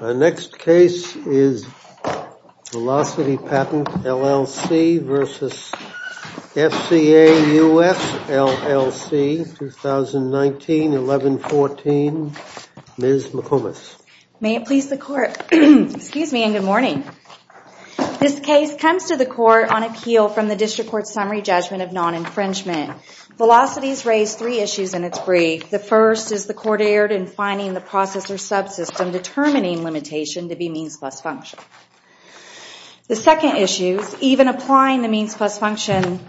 Our next case is Velocity Patent LLC versus FCA US LLC 2019-11-14. Ms. McComas. May it please the court. Excuse me and good morning. This case comes to the court on appeal from the District Court Summary Judgment of Non-Infringement. Velocity has raised three issues in its brief. The first is the court erred in finding the process or subsystem determining limitation to be means plus function. The second issue, even applying the means plus function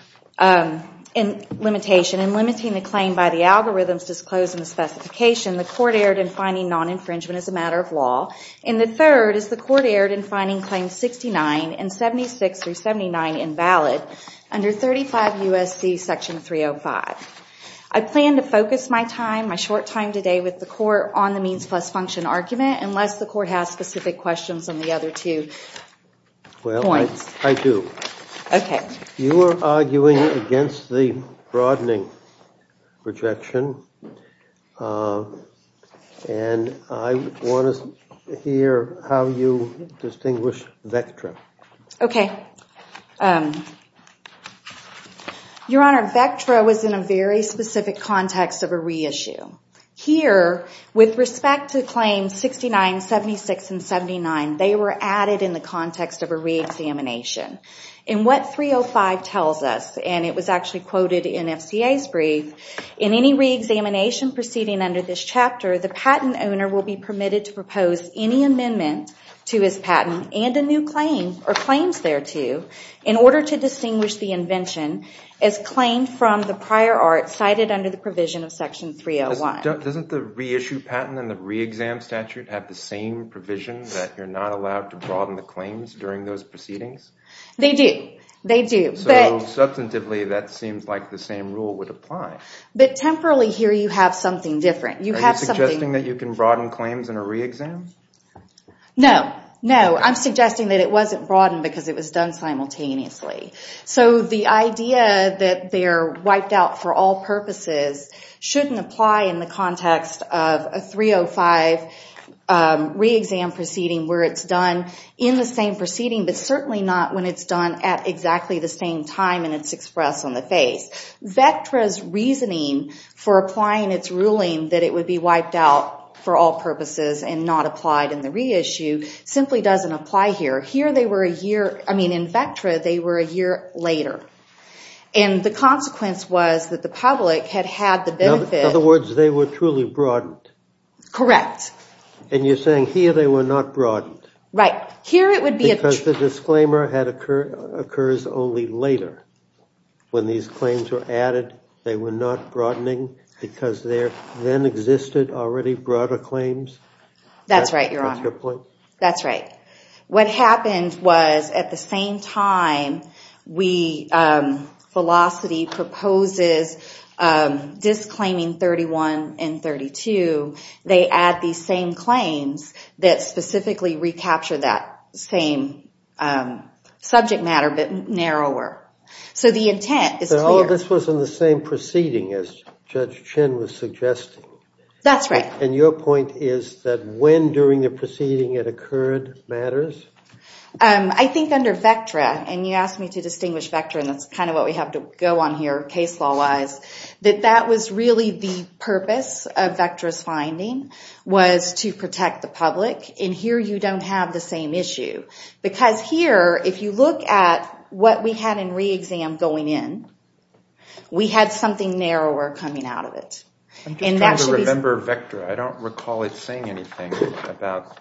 in limitation and limiting the claim by the algorithms disclosed in the specification, the court erred in finding non-infringement as a matter of law. And the third is the court erred in finding claims 69 and 76 through 79 invalid under 35 U.S.C. Section 305. I plan to focus my time, my short time today, with the court on the means plus function argument unless the court has specific questions on the other two points. Well, I do. Okay. You are arguing against the broadening rejection and I want to hear how you distinguish Vectra. Okay. Your Honor, Vectra was in a very specific context of a reissue. Here, with respect to claims 69, 76, and 79, they were added in the context of a re-examination. In what 305 tells us, and it was actually quoted in FCA's brief, in any re-examination proceeding under this section 305, Vectra proposed any amendment to his patent and a new claim, or claims thereto, in order to distinguish the invention as claimed from the prior art cited under the provision of section 301. Doesn't the reissue patent and the re-exam statute have the same provision that you're not allowed to broaden the claims during those proceedings? They do. They do. So, substantively, that seems like the same rule would apply. But, temporally, here you have something different. You have suggesting that you can broaden claims in a re-exam? No. No. I'm suggesting that it wasn't broadened because it was done simultaneously. So, the idea that they're wiped out for all purposes shouldn't apply in the context of a 305 re-exam proceeding where it's done in the same proceeding, but certainly not when it's done at exactly the same time and it's expressed on the face. Vectra's reasoning for applying its ruling that it would be wiped out for all purposes and not applied in the reissue simply doesn't apply here. Here they were a year, I mean in Vectra, they were a year later. And the consequence was that the public had had the benefit. In other words, they were truly broadened? Correct. And you're saying here they were not broadened? Right. Here it would be a... Because the disclaimer had occurred only later. When these claims were added, they were not broadening because there then existed already broader claims? That's right, Your Honor. That's right. What happened was, at the same time we, Velocity proposes disclaiming 31 and 32, they add these same claims that specifically recapture that same subject matter, but narrower. So the intent is clear. So all of this was in the same proceeding as Judge Chin was suggesting? That's right. And your point is that when during the proceeding it occurred matters? I think under Vectra, and you asked me to distinguish Vectra and that's kind of what we have to go on here case law wise, that that was really the purpose of protecting the public. And here you don't have the same issue. Because here, if you look at what we had in re-exam going in, we had something narrower coming out of it. I'm just trying to remember Vectra. I don't recall it saying anything about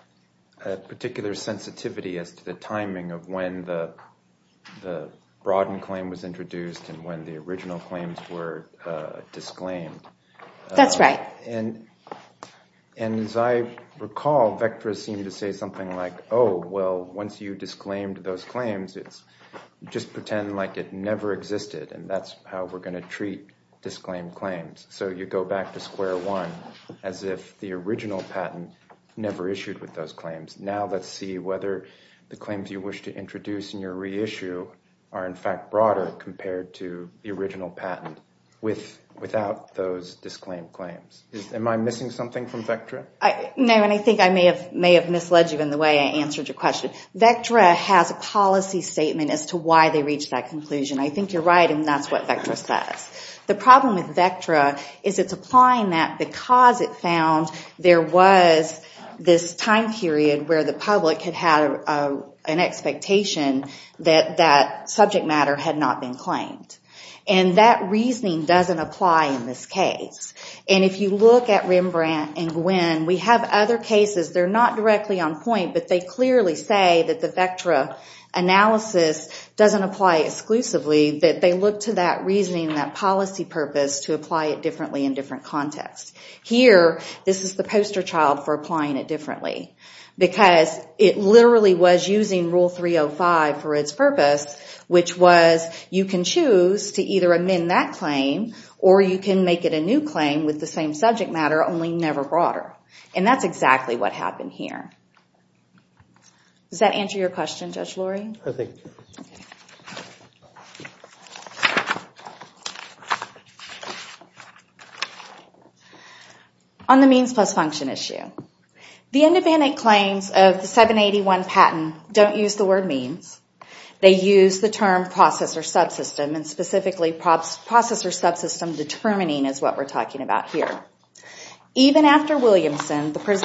a particular sensitivity as to the timing of when the broadened claim was introduced and when the original claims were disclaimed. That's right. And as I recall, Vectra seemed to say something like, oh well, once you disclaimed those claims, it's just pretend like it never existed. And that's how we're going to treat disclaimed claims. So you go back to square one, as if the original patent never issued with those claims. Now let's see whether the claims you wish to introduce in your issue are in fact broader compared to the original patent without those disclaimed claims. Am I missing something from Vectra? No, and I think I may have misled you in the way I answered your question. Vectra has a policy statement as to why they reached that conclusion. I think you're right, and that's what Vectra says. The problem with Vectra is it's applying that because it found there was this time period where the public had had an expectation that that subject matter had not been claimed. And that reasoning doesn't apply in this case. And if you look at Rembrandt and Gwinn, we have other cases. They're not directly on point, but they clearly say that the Vectra analysis doesn't apply exclusively, that they look to that reasoning and that policy purpose to apply it differently in different contexts. Here, this is the poster child for applying it differently because it literally was using Rule 305 for its purpose, which was you can choose to either amend that claim or you can make it a new claim with the same subject matter, only never broader. And that's exactly what happened here. Does that answer your question, Judge Lurie? I think it does. On the means plus function issue, the independent claims of the 781 patent don't use the word means. They use the term processor subsystem, and specifically processor subsystem determining is what we're talking about here. Even after Williamson, the claim,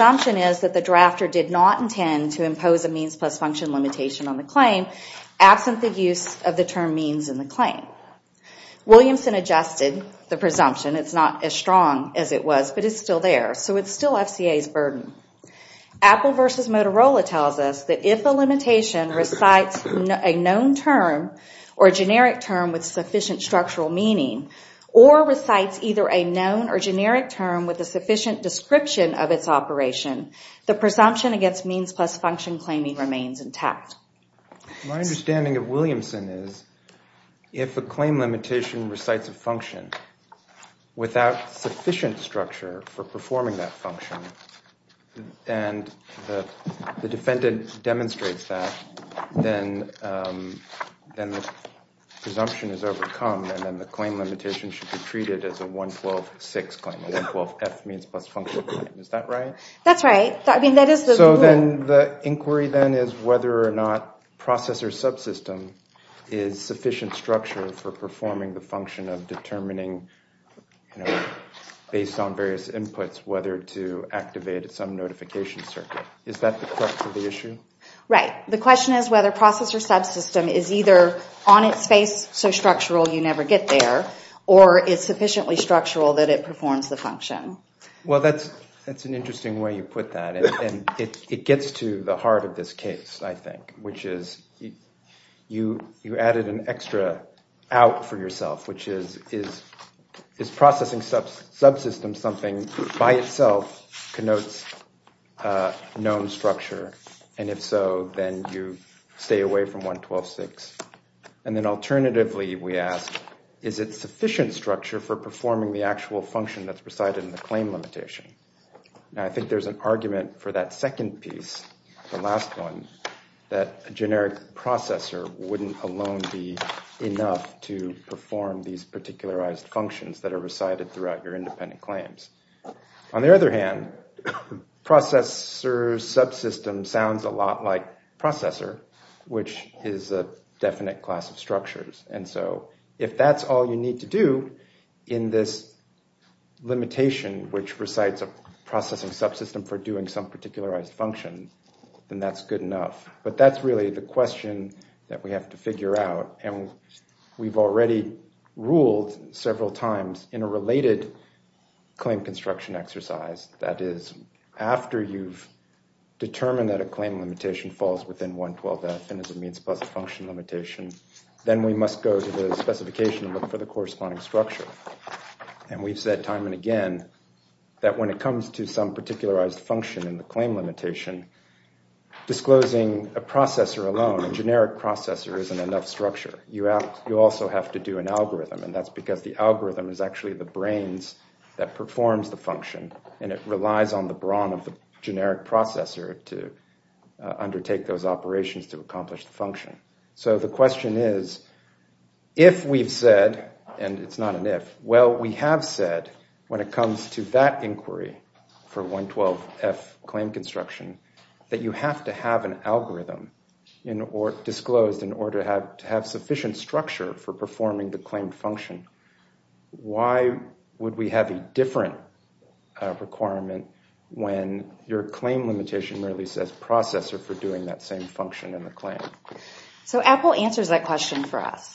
absent the use of the term means in the claim. Williamson adjusted the presumption. It's not as strong as it was, but it's still there. So it's still FCA's burden. Apple versus Motorola tells us that if a limitation recites a known term or a generic term with sufficient structural meaning, or recites either a known or generic term with a sufficient description of its operation, the presumption against means plus function claiming remains intact. My understanding of Williamson is if a claim limitation recites a function without sufficient structure for performing that function, and the defendant demonstrates that, then the presumption is overcome, and then the claim limitation should be treated as a 112-6 claim, a 112-F claim. So then the inquiry then is whether or not processor subsystem is sufficient structure for performing the function of determining, based on various inputs, whether to activate some notification circuit. Is that the crux of the issue? Right. The question is whether processor subsystem is either on its face so structural you never get there, or is sufficiently structural that it performs the function? Well, that's an interesting way you put that. It gets to the heart of this case, I think, which is you added an extra out for yourself, which is, is processing subsystem something by itself connotes known structure? And if so, then you stay away from 112-6. And then alternatively, we ask, is it sufficient structure for performing the actual function that's recited in the claim limitation? Now, I think there's an argument for that second piece, the last one, that a generic processor wouldn't alone be enough to perform these particularized functions that are recited throughout your independent claims. On the other hand, processor subsystem sounds a lot like processor, which is a definite class of structures. And so if that's all you need to do in this limitation, which recites a processing subsystem for doing some particularized function, then that's good enough. But that's really the question that we have to figure out. And we've already ruled several times in a related claim construction exercise, that is, after you've determined that a claim limitation falls within 112-F and is a means plus a function limitation, then we must go to the specification and look for the corresponding structure. And we've said time and again that when it comes to some particularized function in the claim structure, you also have to do an algorithm. And that's because the algorithm is actually the brains that performs the function, and it relies on the brawn of the generic processor to undertake those operations to accomplish the function. So the question is, if we've said, and it's not an if, well, we have said, when it comes to that inquiry for 112-F claim construction, that you have to have an algorithm disclosed in order to have sufficient structure for performing the claim function, why would we have a different requirement when your claim limitation really says processor for doing that same function in the claim? So Apple answers that question for us.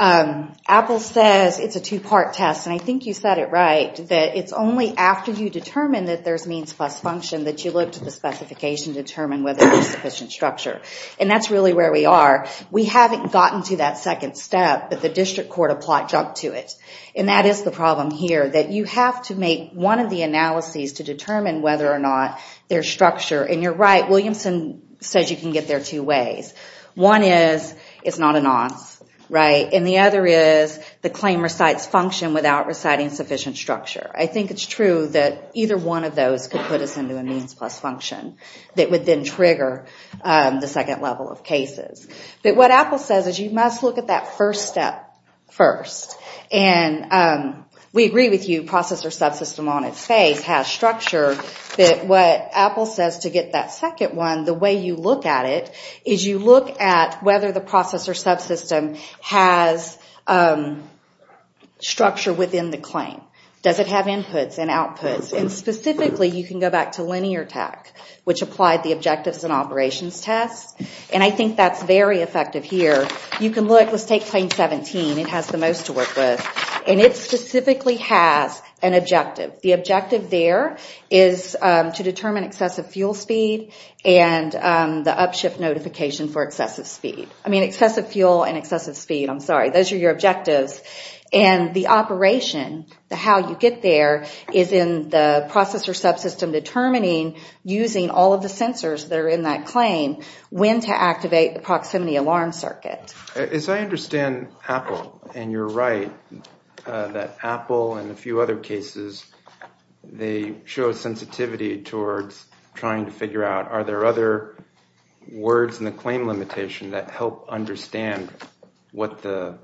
Apple says it's a two-part test, and I think you said it right, that it's only after you determine that there's means plus function that you look to the specification to determine whether there's sufficient structure. And that's really where we are. We haven't gotten to that second step, but the district court applied junk to it. And that is the problem here, that you have to make one of the analyses to determine whether or not there's structure. And you're right, Williamson says you can get there two ways. One is, it's not an on, right? And the other is, the claim recites function without reciting sufficient structure. I think it's true that either one of those could put us into a means plus function that would then trigger the second level of cases. But what Apple says is you must look at that first step first. And we agree with you, processor subsystem on its face has structure. What Apple says to get that second one, the way you look at it, is you look at whether the processor subsystem has structure within the claim. Does it have inputs and outputs? And specifically, you can go back to Linear Tech, which applied the objectives and operations test. And I think that's very effective here. You can look, let's take claim 17, it has the most to work with. And it specifically has an objective. The objective there is to determine excessive fuel speed and the up shift notification for excessive speed. I mean excessive fuel and excessive speed, I'm sorry, those are your objectives. And the operation, how you get there, is in the processor subsystem determining using all of the sensors that are in that claim when to activate the proximity alarm circuit. As I understand Apple, and you're right, that Apple and a few other cases, they show sensitivity towards trying to figure out are there other words in the claim limitation that help understand what the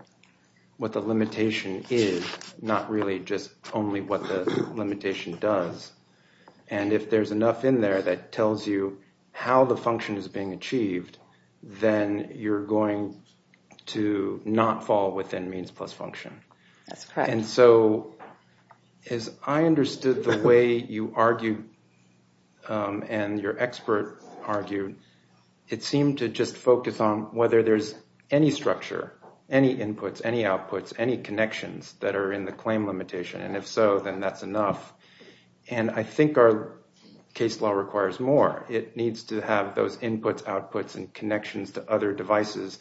limitation is, not really just only what the limitation does. And if there's enough in there that tells you how the function is being achieved, then you're going to not fall within means plus function. That's correct. And so as I understood the way you argued and your expert argued, it seemed to just focus on whether there's any structure, any inputs, any outputs, any connections that are in the claim limitation. And if so, then that's enough. And I think our case law requires more. It needs to have those inputs, outputs, and connections to other devices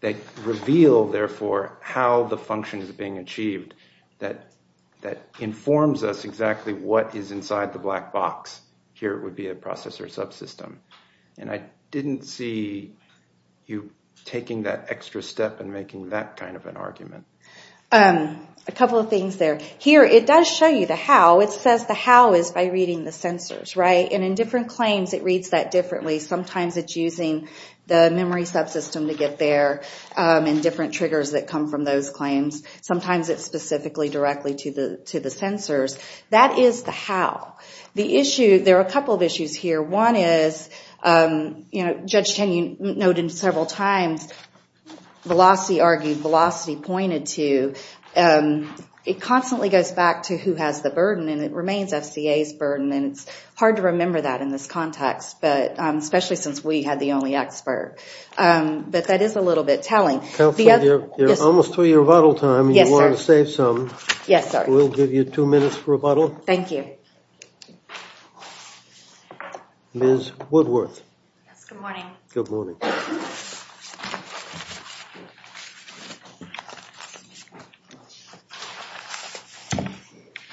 that reveal, therefore, how the function is being achieved that informs us exactly what is inside the black box. Here it would be a processor subsystem. And I didn't see you taking that extra step in making that kind of an argument. A couple of things there. Here it does show you the how. It says the how is by reading the sensors. And in different claims it reads that differently. Sometimes it's using the memory subsystem to get there and different triggers that come from those claims. Sometimes it's specifically directly to the sensors. That is the how. There are a couple of issues here. One is, Judge Tenney noted several times, Velocity argued, Velocity pointed to, it constantly goes back to who has the burden and it remains FCA's burden. And it's hard to remember that in this context, especially since we had the only expert. But that is a little bit telling. Counselor, you're almost through your rebuttal time. You wanted to save some. We'll give you two minutes for rebuttal. Thank you. Ms. Woodworth. Good morning.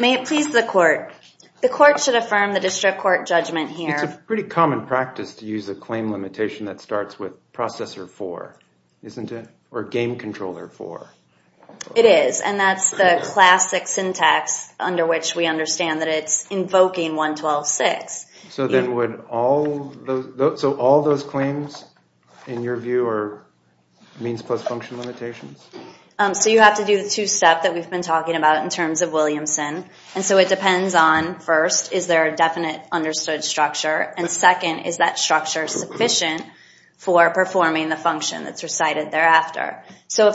May it please the court. The court should affirm the district court judgment here. It's a pretty common practice to use a claim limitation that starts with processor 4, isn't it? Or game controller 4. It is. And that's the classic syntax under which we understand that it's invoking 112.6. So then would all those claims, in your view, are means plus function limitations? So you have to do the two steps that we've been talking about in terms of Williamson. And so it depends on, first, is there a definite understood structure? And second, is that structure sufficient for performing the function that's recited thereafter? So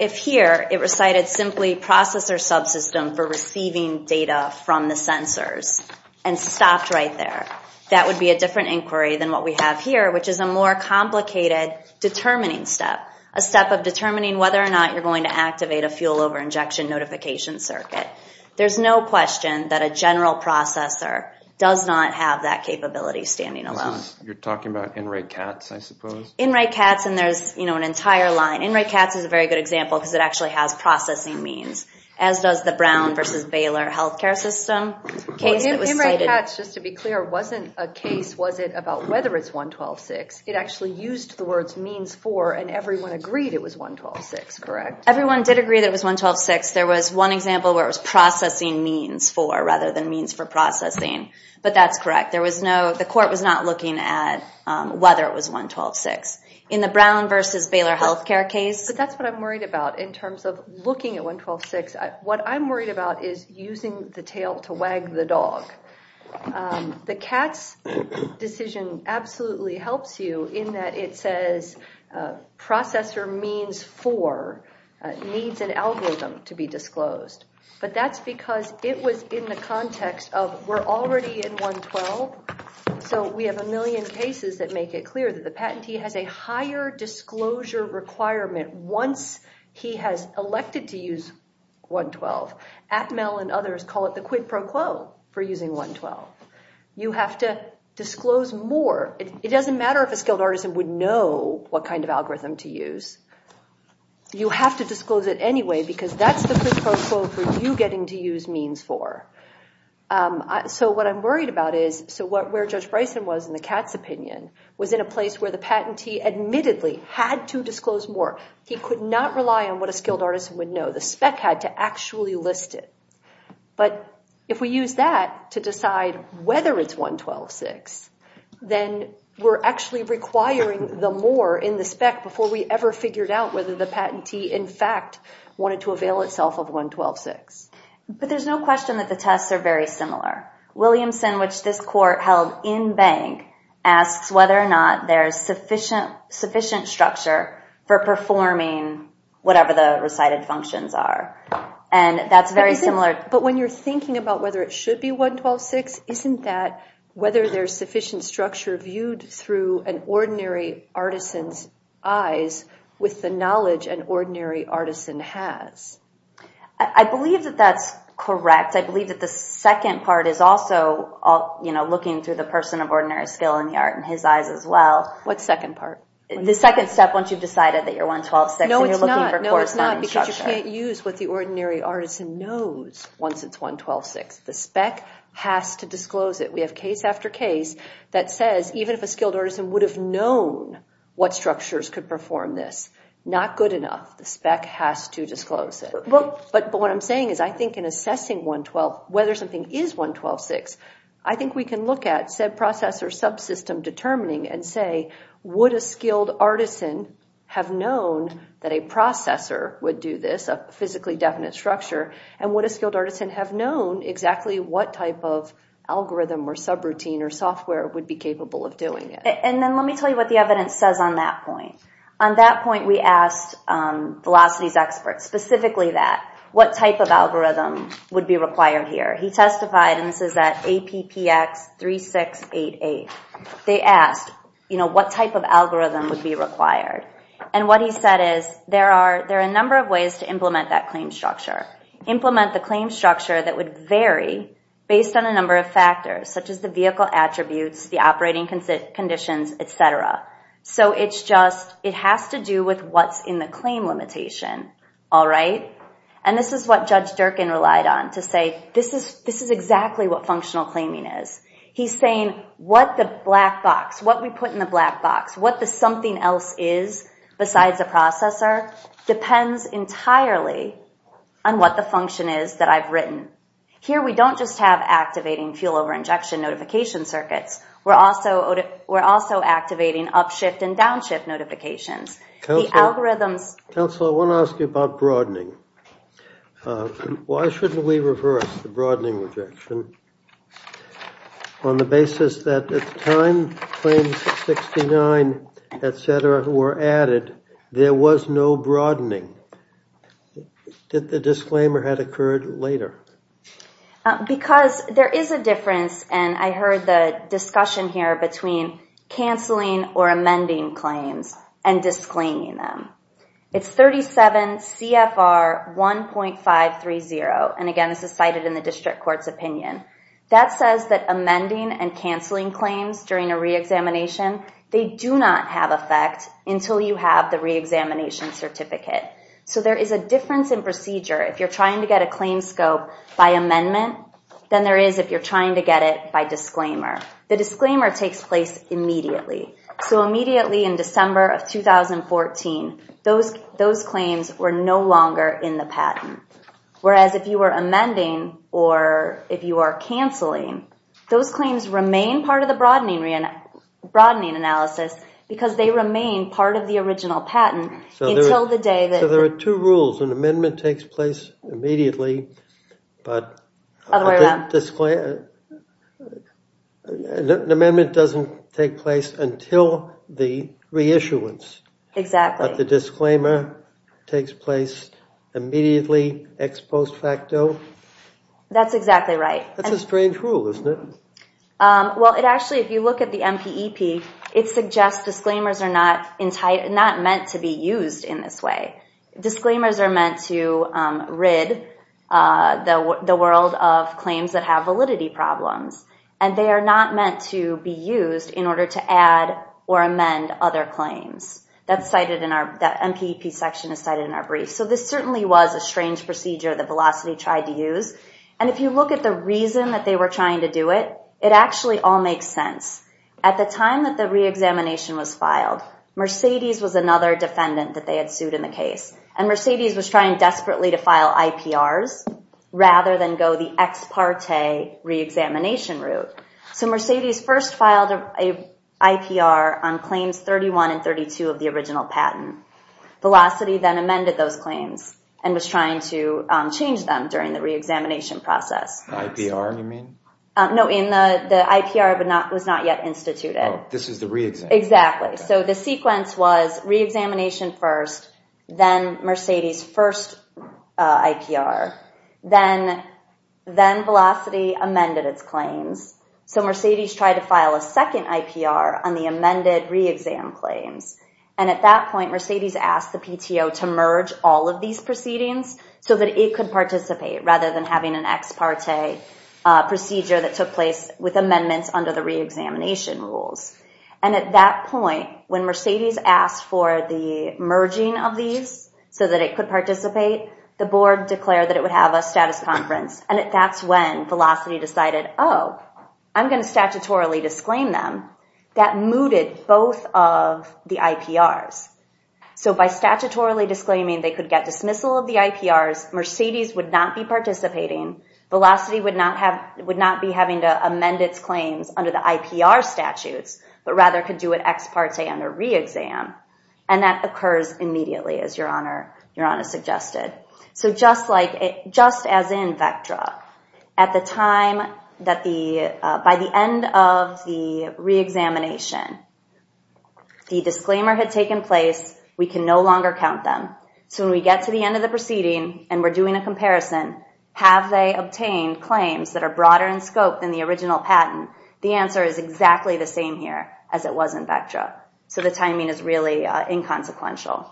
if here, it recited simply processor subsystem for receiving data from the sensors and stopped right there, that would be a different inquiry than what we have here, which is a more complicated determining step. A step of determining whether or not you're going to activate a fuel over injection notification circuit. There's no question that a general processor does not have that capability standing alone. You're talking about Inright-Katz and there's an entire line. Inright-Katz is a very good example because it actually has processing means. As does the Brown versus Baylor health care system. Inright-Katz, just to be clear, wasn't a case about whether it's 112.6. It actually used the words means 4 and everyone agreed it was 112.6, correct? Everyone did agree that it was 112.6. There was one example where it was processing means 4 rather than means for processing, but that's correct. The court was not looking at whether it was 112.6. In the Brown versus Baylor health care case... But that's what I'm worried about in terms of looking at 112.6. What I'm worried about is using the tail to wag the dog. The Katz decision absolutely helps you in that it says processor means 4 needs an algorithm to be disclosed. But that's because it was in the context of we're already in 112. So we have a million cases that make it clear that the patentee has a higher disclosure requirement once he has elected to use 112. Atmel and others call it the quid pro quo for using 112. You have to disclose more. It doesn't matter if a skilled artisan would know what kind of algorithm to use. You have to disclose it anyway because that's the quid pro quo for you getting to use means 4. So what I'm worried about is where Judge Bryson was in the Katz opinion was in a place where the patentee admittedly had to disclose more. He could not rely on what a skilled artisan would know. The spec had to actually list it. But if we use that to decide whether it's 112.6, then we're actually requiring the more in the spec before we ever figured out whether the patentee in fact wanted to avail itself of 112.6. But there's no question that the tests are very similar. Williamson, which this court held in bank, asks whether or not there's sufficient structure for performing whatever the recited functions are. But when you're thinking about whether it should be 112.6, isn't that whether there's sufficient structure viewed through an ordinary artisan's eyes with the knowledge an ordinary artisan has? I believe that that's correct. I believe that the second part is also looking through the person of ordinary skill in the art in his eyes as well. What second part? The second step once you've decided that you're 112.6 and you're looking for corresponding structure. No, it's not. You can't use what the ordinary artisan knows once it's 112.6. The spec has to disclose it. We have case after case that says even if a skilled artisan would have known what structures could perform this, not good enough. The spec has to disclose it. But what I'm saying is I think in assessing 112, whether something is 112.6, I think we can look at said process or subsystem determining and say, would a skilled artisan have known that a processor would do this, a physically definite structure, and would a skilled artisan have known exactly what type of algorithm or subroutine or software would be required? I asked one of the Velocities experts specifically that. What type of algorithm would be required here? He testified, and this is at APPX 3688. They asked what type of algorithm would be required. And what he said is there are a number of ways to implement that claim structure. Implement the claim structure that would vary based on a number of factors, such as the vehicle limitation. And this is what Judge Durkin relied on to say this is exactly what functional claiming is. He's saying what the black box, what we put in the black box, what the something else is besides the processor, depends entirely on what the function is that I've written. Here we don't just have activating fuel over injection notification circuits. We're also activating upshift and downshift notifications. Counselor, I want to ask you about broadening. Why shouldn't we reverse the broadening rejection on the basis that at the time claims 69, et cetera, were added, there was no broadening? Did the disclaimer had occurred later? Because there is a difference, and I heard the discussion here between canceling or amending claims and disclaiming them. It's 37 CFR 1.530. And again, this is cited in the district court's opinion. That says that amending and canceling claims during a re-examination, they do not have effect until you have the re-examination certificate. So there is a difference in procedure if you're trying to get a claim scope by amendment than there is if you're trying to get it by disclaimer. The disclaimer takes place immediately. So immediately in December of 2014, those claims were no longer in the patent. Whereas if you were amending or if you are canceling, those claims remain part of the broadening analysis because they remain part of the original patent until the day that... So there are two rules. An amendment takes place immediately, but an amendment doesn't take place until the That's exactly right. Well, it actually, if you look at the MPEP, it suggests disclaimers are not meant to be used in this way. Disclaimers are meant to rid the world of claims that have validity problems. And they are not meant to be used in order to add or amend other claims. That MPEP section is cited in our brief. So this certainly was a strange procedure that Velocity tried to use. And if you look at the reason that they were trying to do it, it actually all makes sense. At the time that the re-examination was filed, Mercedes was another defendant that they had sued in the case. And Mercedes was trying desperately to file IPRs rather than go the ex parte re-examination route. So Mercedes first filed an IPR on claims 31 and 32 of the original patent. Velocity then amended those claims and was trying to change them during the re-examination process. The IPR you mean? No, the IPR was not yet instituted. Oh, this is the re-examination. Exactly. So the sequence was re-examination first, then Mercedes' first IPR. Then Velocity amended its claims. So Mercedes tried to file a second IPR on the amended re-exam claims. And at that point, Mercedes asked the PTO to merge all of these proceedings so that it could participate rather than having an ex parte procedure that took place with amendments under the re-examination rules. And at that point, when Mercedes asked for the merging of these so that it could participate, the board declared that it would have a status conference. And that's when Velocity decided, oh, I'm going to statutorily disclaim them. That mooted both of the IPRs. So by statutorily disclaiming they could get dismissal of the IPRs, Mercedes would not be participating. Velocity would not be having to amend its claims under the IPR statutes, but rather could do an ex parte and a re-exam. And that occurs immediately, as Your Honor suggested. So just as in Vectra, by the end of the re-examination, the disclaimer had taken place. We can no longer count them. So when we get to the end of the proceeding and we're doing a comparison, have they obtained claims that are broader in scope than the original patent? The answer is exactly the same here as it was in Vectra. So the timing is really inconsequential.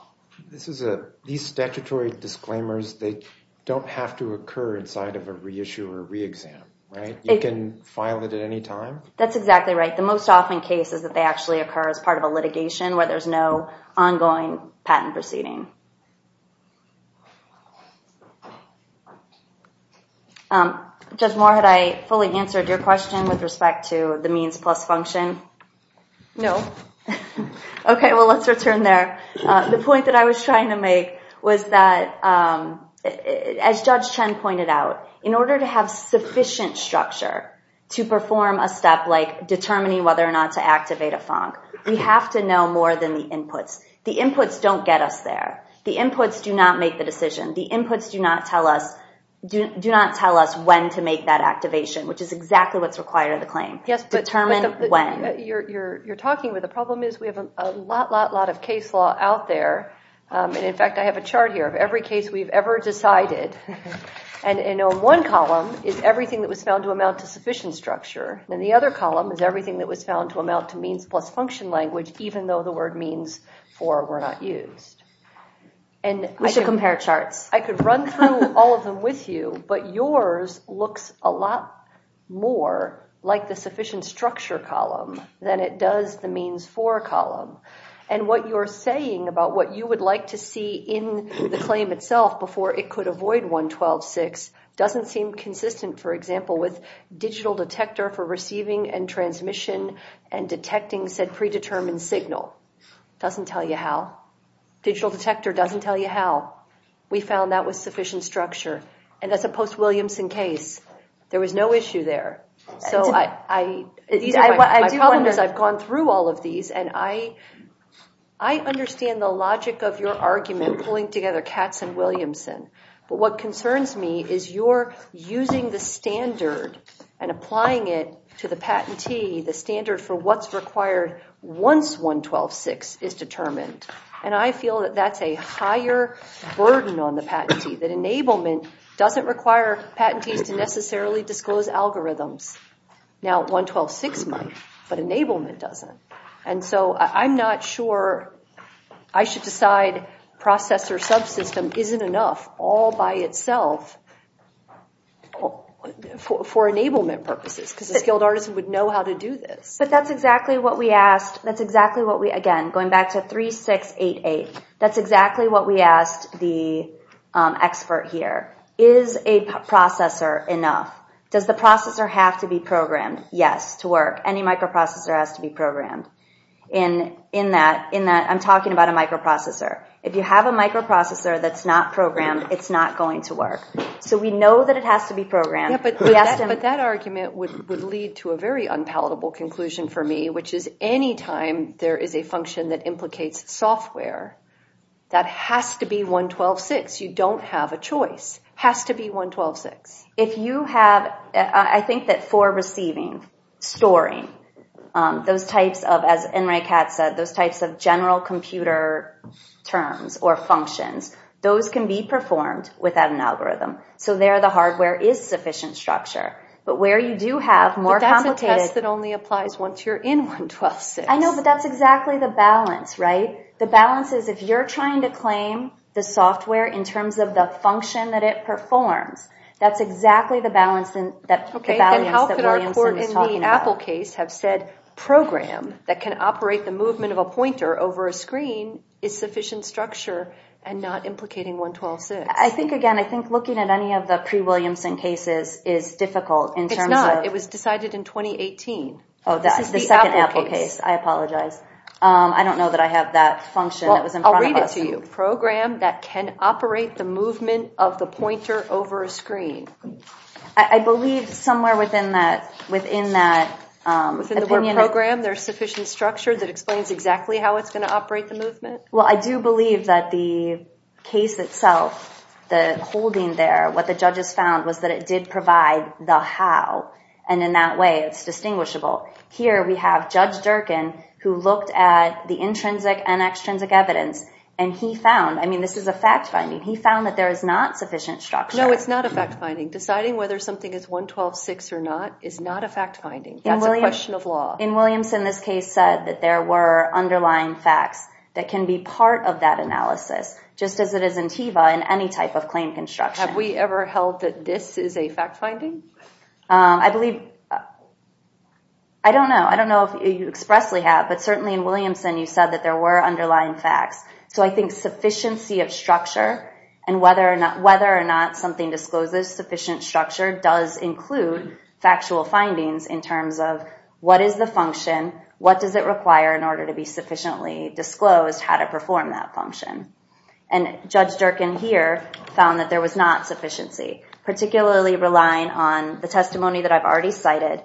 These statutory disclaimers, they don't have to occur inside of a reissue or re-exam, right? You can file it at any time? That's exactly right. The most often case is that they actually occur as part of a litigation where there's no ongoing patent proceeding. Judge Moore, had I fully answered your question with respect to the means plus function? No. Okay, well, let's return there. The point that I was trying to make was that, as Judge Chen pointed out, in order to have sufficient structure to perform a step like determining whether or not to activate a FONC, we have to know more than the inputs. The inputs don't get us there. The inputs do not make the decision. The inputs do not tell us when to make that activation, which is exactly what's required of the claim. Determine when. You're talking, but the problem is we have a lot, lot, lot of case law out there. In fact, I have a chart here of every case we've ever decided. In one column is everything that was found to amount to sufficient structure. In the other column is everything that was found to amount to means plus function language, even though the word means for were not used. We should compare charts. I could run through all of them with you, but yours looks a lot more like the sufficient structure column than it does the means for column. And what you're saying about what you would like to see in the claim itself before it could avoid 112.6 doesn't seem consistent, for example, with digital detector for receiving and transmission and detecting said predetermined signal. It doesn't tell you how. Digital detector doesn't tell you how. We found that was sufficient structure. And that's a post-Williamson case. There was no issue there. So my problem is I've gone through all of these, and I understand the logic of your argument pulling together Katz and Williamson. But what concerns me is you're using the standard and applying it to the patentee, the standard for what's required once 112.6 is determined. And I feel that that's a higher burden on the patentee, that enablement doesn't require patentees to necessarily disclose algorithms. Now 112.6 might, but enablement doesn't. And so I'm not sure I should decide processor subsystem isn't enough all by itself for enablement purposes because a skilled artist would know how to do this. But that's exactly what we asked. Again, going back to 3688, that's exactly what we asked the expert here. Is a processor enough? Does the processor have to be programmed? Yes, to work. Any microprocessor has to be programmed in that I'm talking about a microprocessor. If you have a microprocessor that's not programmed, it's not going to work. So we know that it has to be programmed. But that argument would lead to a very unpalatable conclusion for me, which is any time there is a function that implicates software, that has to be 112.6. You don't have a choice. It has to be 112.6. I think that for receiving, storing, those types of, as Enright Katz said, those types of general computer terms or functions, those can be performed without an algorithm. So there the hardware is sufficient structure. But where you do have more complicated... But that's a test that only applies once you're in 112.6. I know, but that's exactly the balance, right? The balance is if you're trying to claim the software in terms of the function that it performs, that's exactly the balance that Williamson was talking about. Okay, then how could our court in the Apple case have said, program that can operate the movement of a pointer over a screen is sufficient structure and not implicating 112.6? I think, again, I think looking at any of the pre-Williamson cases is difficult in terms of... It's not. It was decided in 2018. Oh, the second Apple case. I apologize. I don't know that I have that function that was in front of us. Well, I'll read it to you. Program that can operate the movement of the pointer over a screen. I believe somewhere within that opinion... Within the word program, there's sufficient structure that explains exactly how it's going to operate the movement? Well, I do believe that the case itself, the holding there, what the judges found was that it did provide the how, and in that way it's distinguishable. Here we have Judge Durkin, who looked at the intrinsic and extrinsic evidence, and he found, I mean, this is a fact-finding, he found that there is not sufficient structure. No, it's not a fact-finding. Deciding whether something is 112.6 or not is not a fact-finding. That's a question of law. In Williamson, this case said that there were underlying facts that can be part of that analysis, just as it is in TEVA and any type of claim construction. Have we ever held that this is a fact-finding? I believe... I don't know. I don't know if you expressly have, but certainly in Williamson you said that there were underlying facts. So I think sufficiency of structure and whether or not something discloses sufficient structure does include factual findings in terms of what is the function, what does it require in order to be sufficiently disclosed how to perform that function. And Judge Durkin here found that there was not sufficiency, particularly relying on the testimony that I've already cited,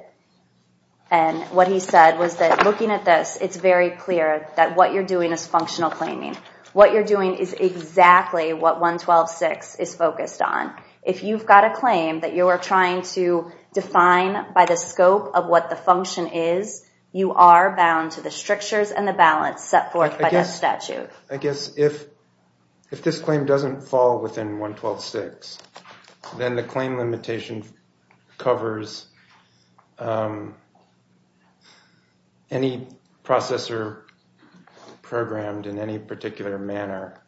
and what he said was that looking at this, it's very clear that what you're doing is functional claiming. What you're doing is exactly what 112.6 is focused on. If you've got a claim that you're trying to define by the scope of what the function is, you are bound to the strictures and the balance set forth by that statute. I guess if this claim doesn't fall within 112.6, then the claim limitation covers any processor programmed in any particular manner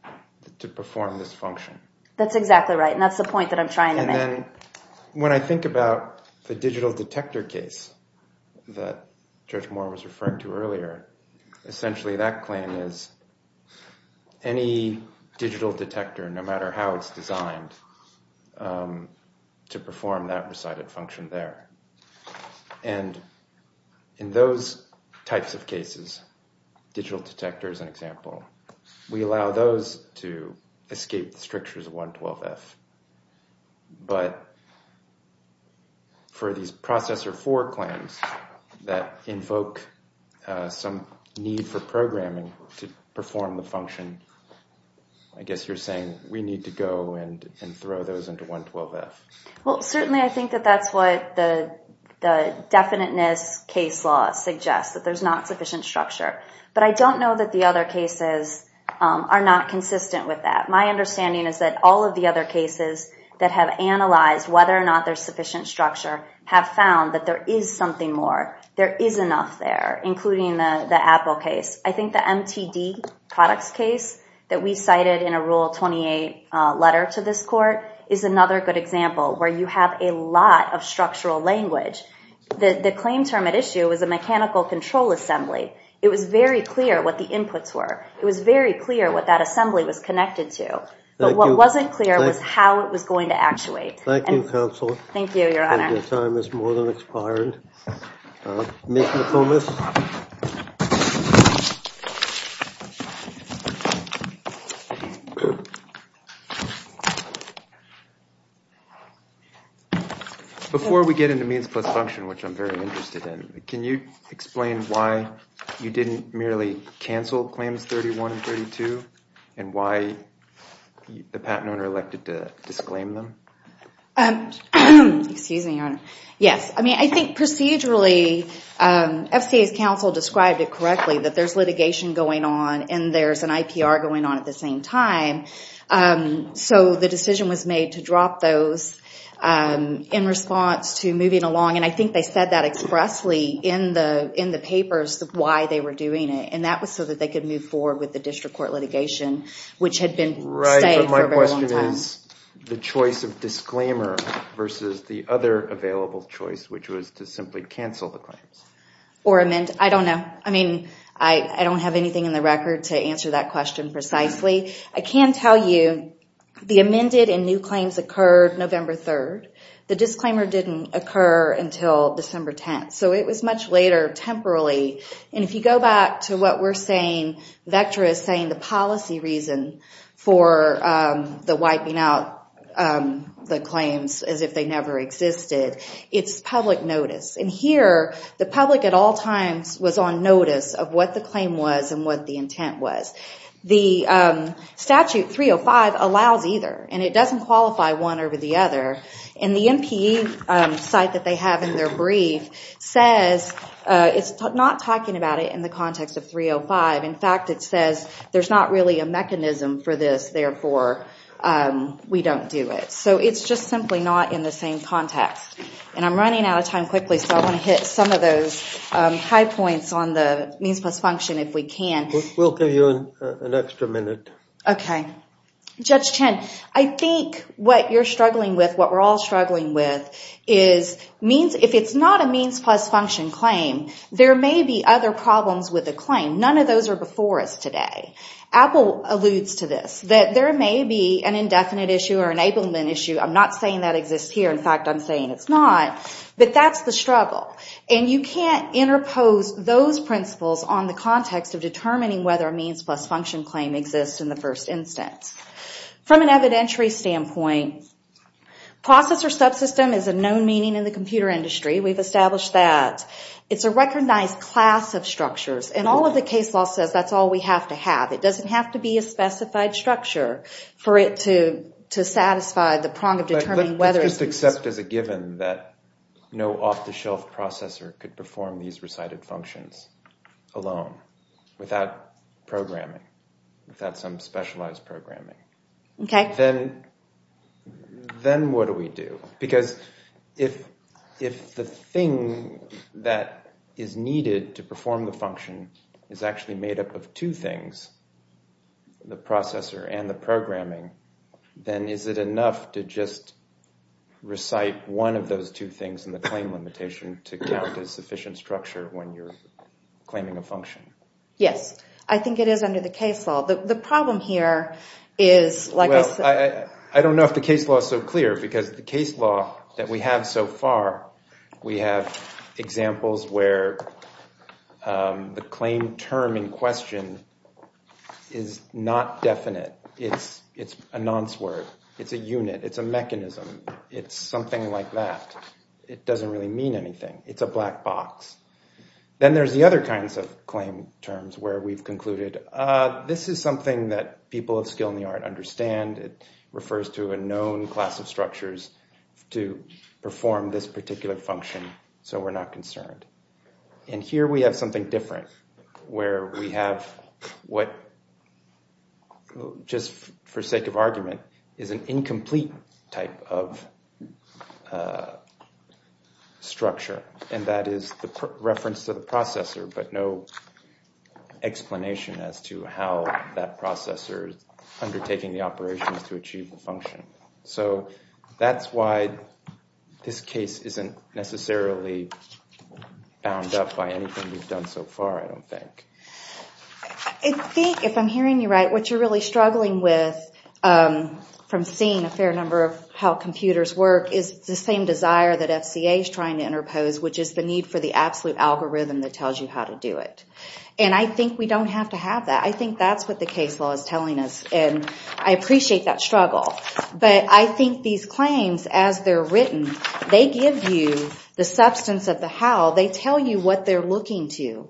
to perform this function. That's exactly right, and that's the point that I'm trying to make. And then when I think about the digital detector case that Judge Moore was referring to earlier, essentially that claim is any digital detector, no matter how it's designed, to perform that recited function there. And in those types of cases, digital detector is an example, we allow those to escape the strictures of 112.f. But for these processor 4 claims that invoke some need for programming to perform the function, I guess you're saying we need to go and throw those into 112.f. Well, certainly I think that that's what the definiteness case law suggests, that there's not sufficient structure. But I don't know that the other cases are not consistent with that. My understanding is that all of the other cases that have analyzed whether or not there's sufficient structure have found that there is something more. There is enough there, including the Apple case. I think the MTD products case that we cited in a Rule 28 letter to this court is another good example where you have a lot of structural language. The claim term at issue was a mechanical control assembly. It was very clear what the inputs were. It was very clear what that assembly was connected to. But what wasn't clear was how it was going to actuate. Thank you, counsel. Thank you, your honor. Your time has more than expired. Ms. McComas. Before we get into means plus function, which I'm very interested in, can you explain why you didn't merely cancel claims 31 and 32 and why the patent owner elected to disclaim them? Excuse me, your honor. Yes. I mean, I think procedurally, FCA's counsel described it correctly, that there's litigation going on and there's an IPR going on at the same time. So the decision was made to drop those in response to moving along. And I think they said that expressly in the papers why they were doing it. And that was so that they could move forward with the district court litigation, which had been saved for a very long time. My question is the choice of disclaimer versus the other available choice, which was to simply cancel the claims. Or amend. I don't know. I mean, I don't have anything in the record to answer that question precisely. I can tell you the amended and new claims occurred November 3rd. The disclaimer didn't occur until December 10th. So it was much later temporally. And if you go back to what we're saying, Vectra is saying the policy reason for the wiping out the claims as if they never existed, it's public notice. And here, the public at all times was on notice of what the claim was and what the intent was. The statute 305 allows either. And it doesn't qualify one over the other. And the MPE site that they have in their brief says, it's not talking about it in the context of 305. In fact, it says there's not really a mechanism for this. Therefore, we don't do it. So it's just simply not in the same context. And I'm running out of time quickly. So I want to hit some of those high points on the means plus function if we can. We'll give you an extra minute. Okay. Judge Chen, I think what you're struggling with, what we're all struggling with, is if it's not a means plus function claim, there may be other problems with the claim. None of those are before us today. Apple alludes to this, that there may be an indefinite issue or enablement issue. I'm not saying that exists here. In fact, I'm saying it's not. But that's the struggle. And you can't interpose those principles on the context of determining whether a means plus function claim exists in the first instance. From an evidentiary standpoint, processor subsystem is a known meaning in the computer industry. We've established that. It's a recognized class of structures. And all of the case law says that's all we have to have. It doesn't have to be a specified structure for it to satisfy the prong of determining whether it exists. Let's just accept as a given that no off-the-shelf processor could perform these recited functions alone without programming, without some specialized programming. Okay. Then what do we do? Because if the thing that is needed to perform the function is actually made up of two things, the processor and the programming, then is it enough to just recite one of those two things in the claim limitation to count as sufficient structure when you're claiming a function? Yes. I think it is under the case law. The problem here is, like I said— Well, I don't know if the case law is so clear because the case law that we have so far, we have examples where the claim term in question is not definite. It's a nonce word. It's a unit. It's a mechanism. It's something like that. It doesn't really mean anything. It's a black box. Then there's the other kinds of claim terms where we've concluded this is something that people of skill in the art understand. It refers to a known class of structures to perform this particular function, so we're not concerned. And here we have something different where we have what, just for sake of argument, is an incomplete type of structure, and that is the reference to the processor, but no explanation as to how that processor is undertaking the operations to achieve the function. So that's why this case isn't necessarily bound up by anything we've done so far, I don't think. I think, if I'm hearing you right, what you're really struggling with from seeing a fair number of how computers work is the same desire that FCA is trying to interpose, which is the need for the absolute algorithm that tells you how to do it. And I think we don't have to have that. I think that's what the case law is telling us, and I appreciate that struggle. But I think these claims, as they're written, they give you the substance of the how. They tell you what they're looking to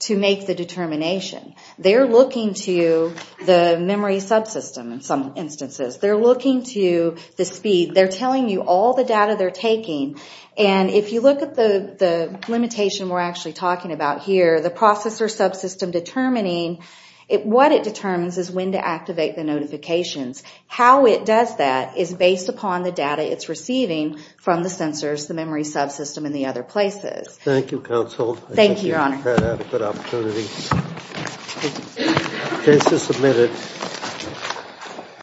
to make the determination. They're looking to the memory subsystem, in some instances. They're looking to the speed. They're telling you all the data they're taking, and if you look at the limitation we're actually talking about here, the processor subsystem determining, what it determines is when to activate the notifications. How it does that is based upon the data it's receiving from the sensors, the memory subsystem, and the other places. Thank you, Counsel. Thank you, Your Honor. I think you've had a good opportunity. Case is submitted.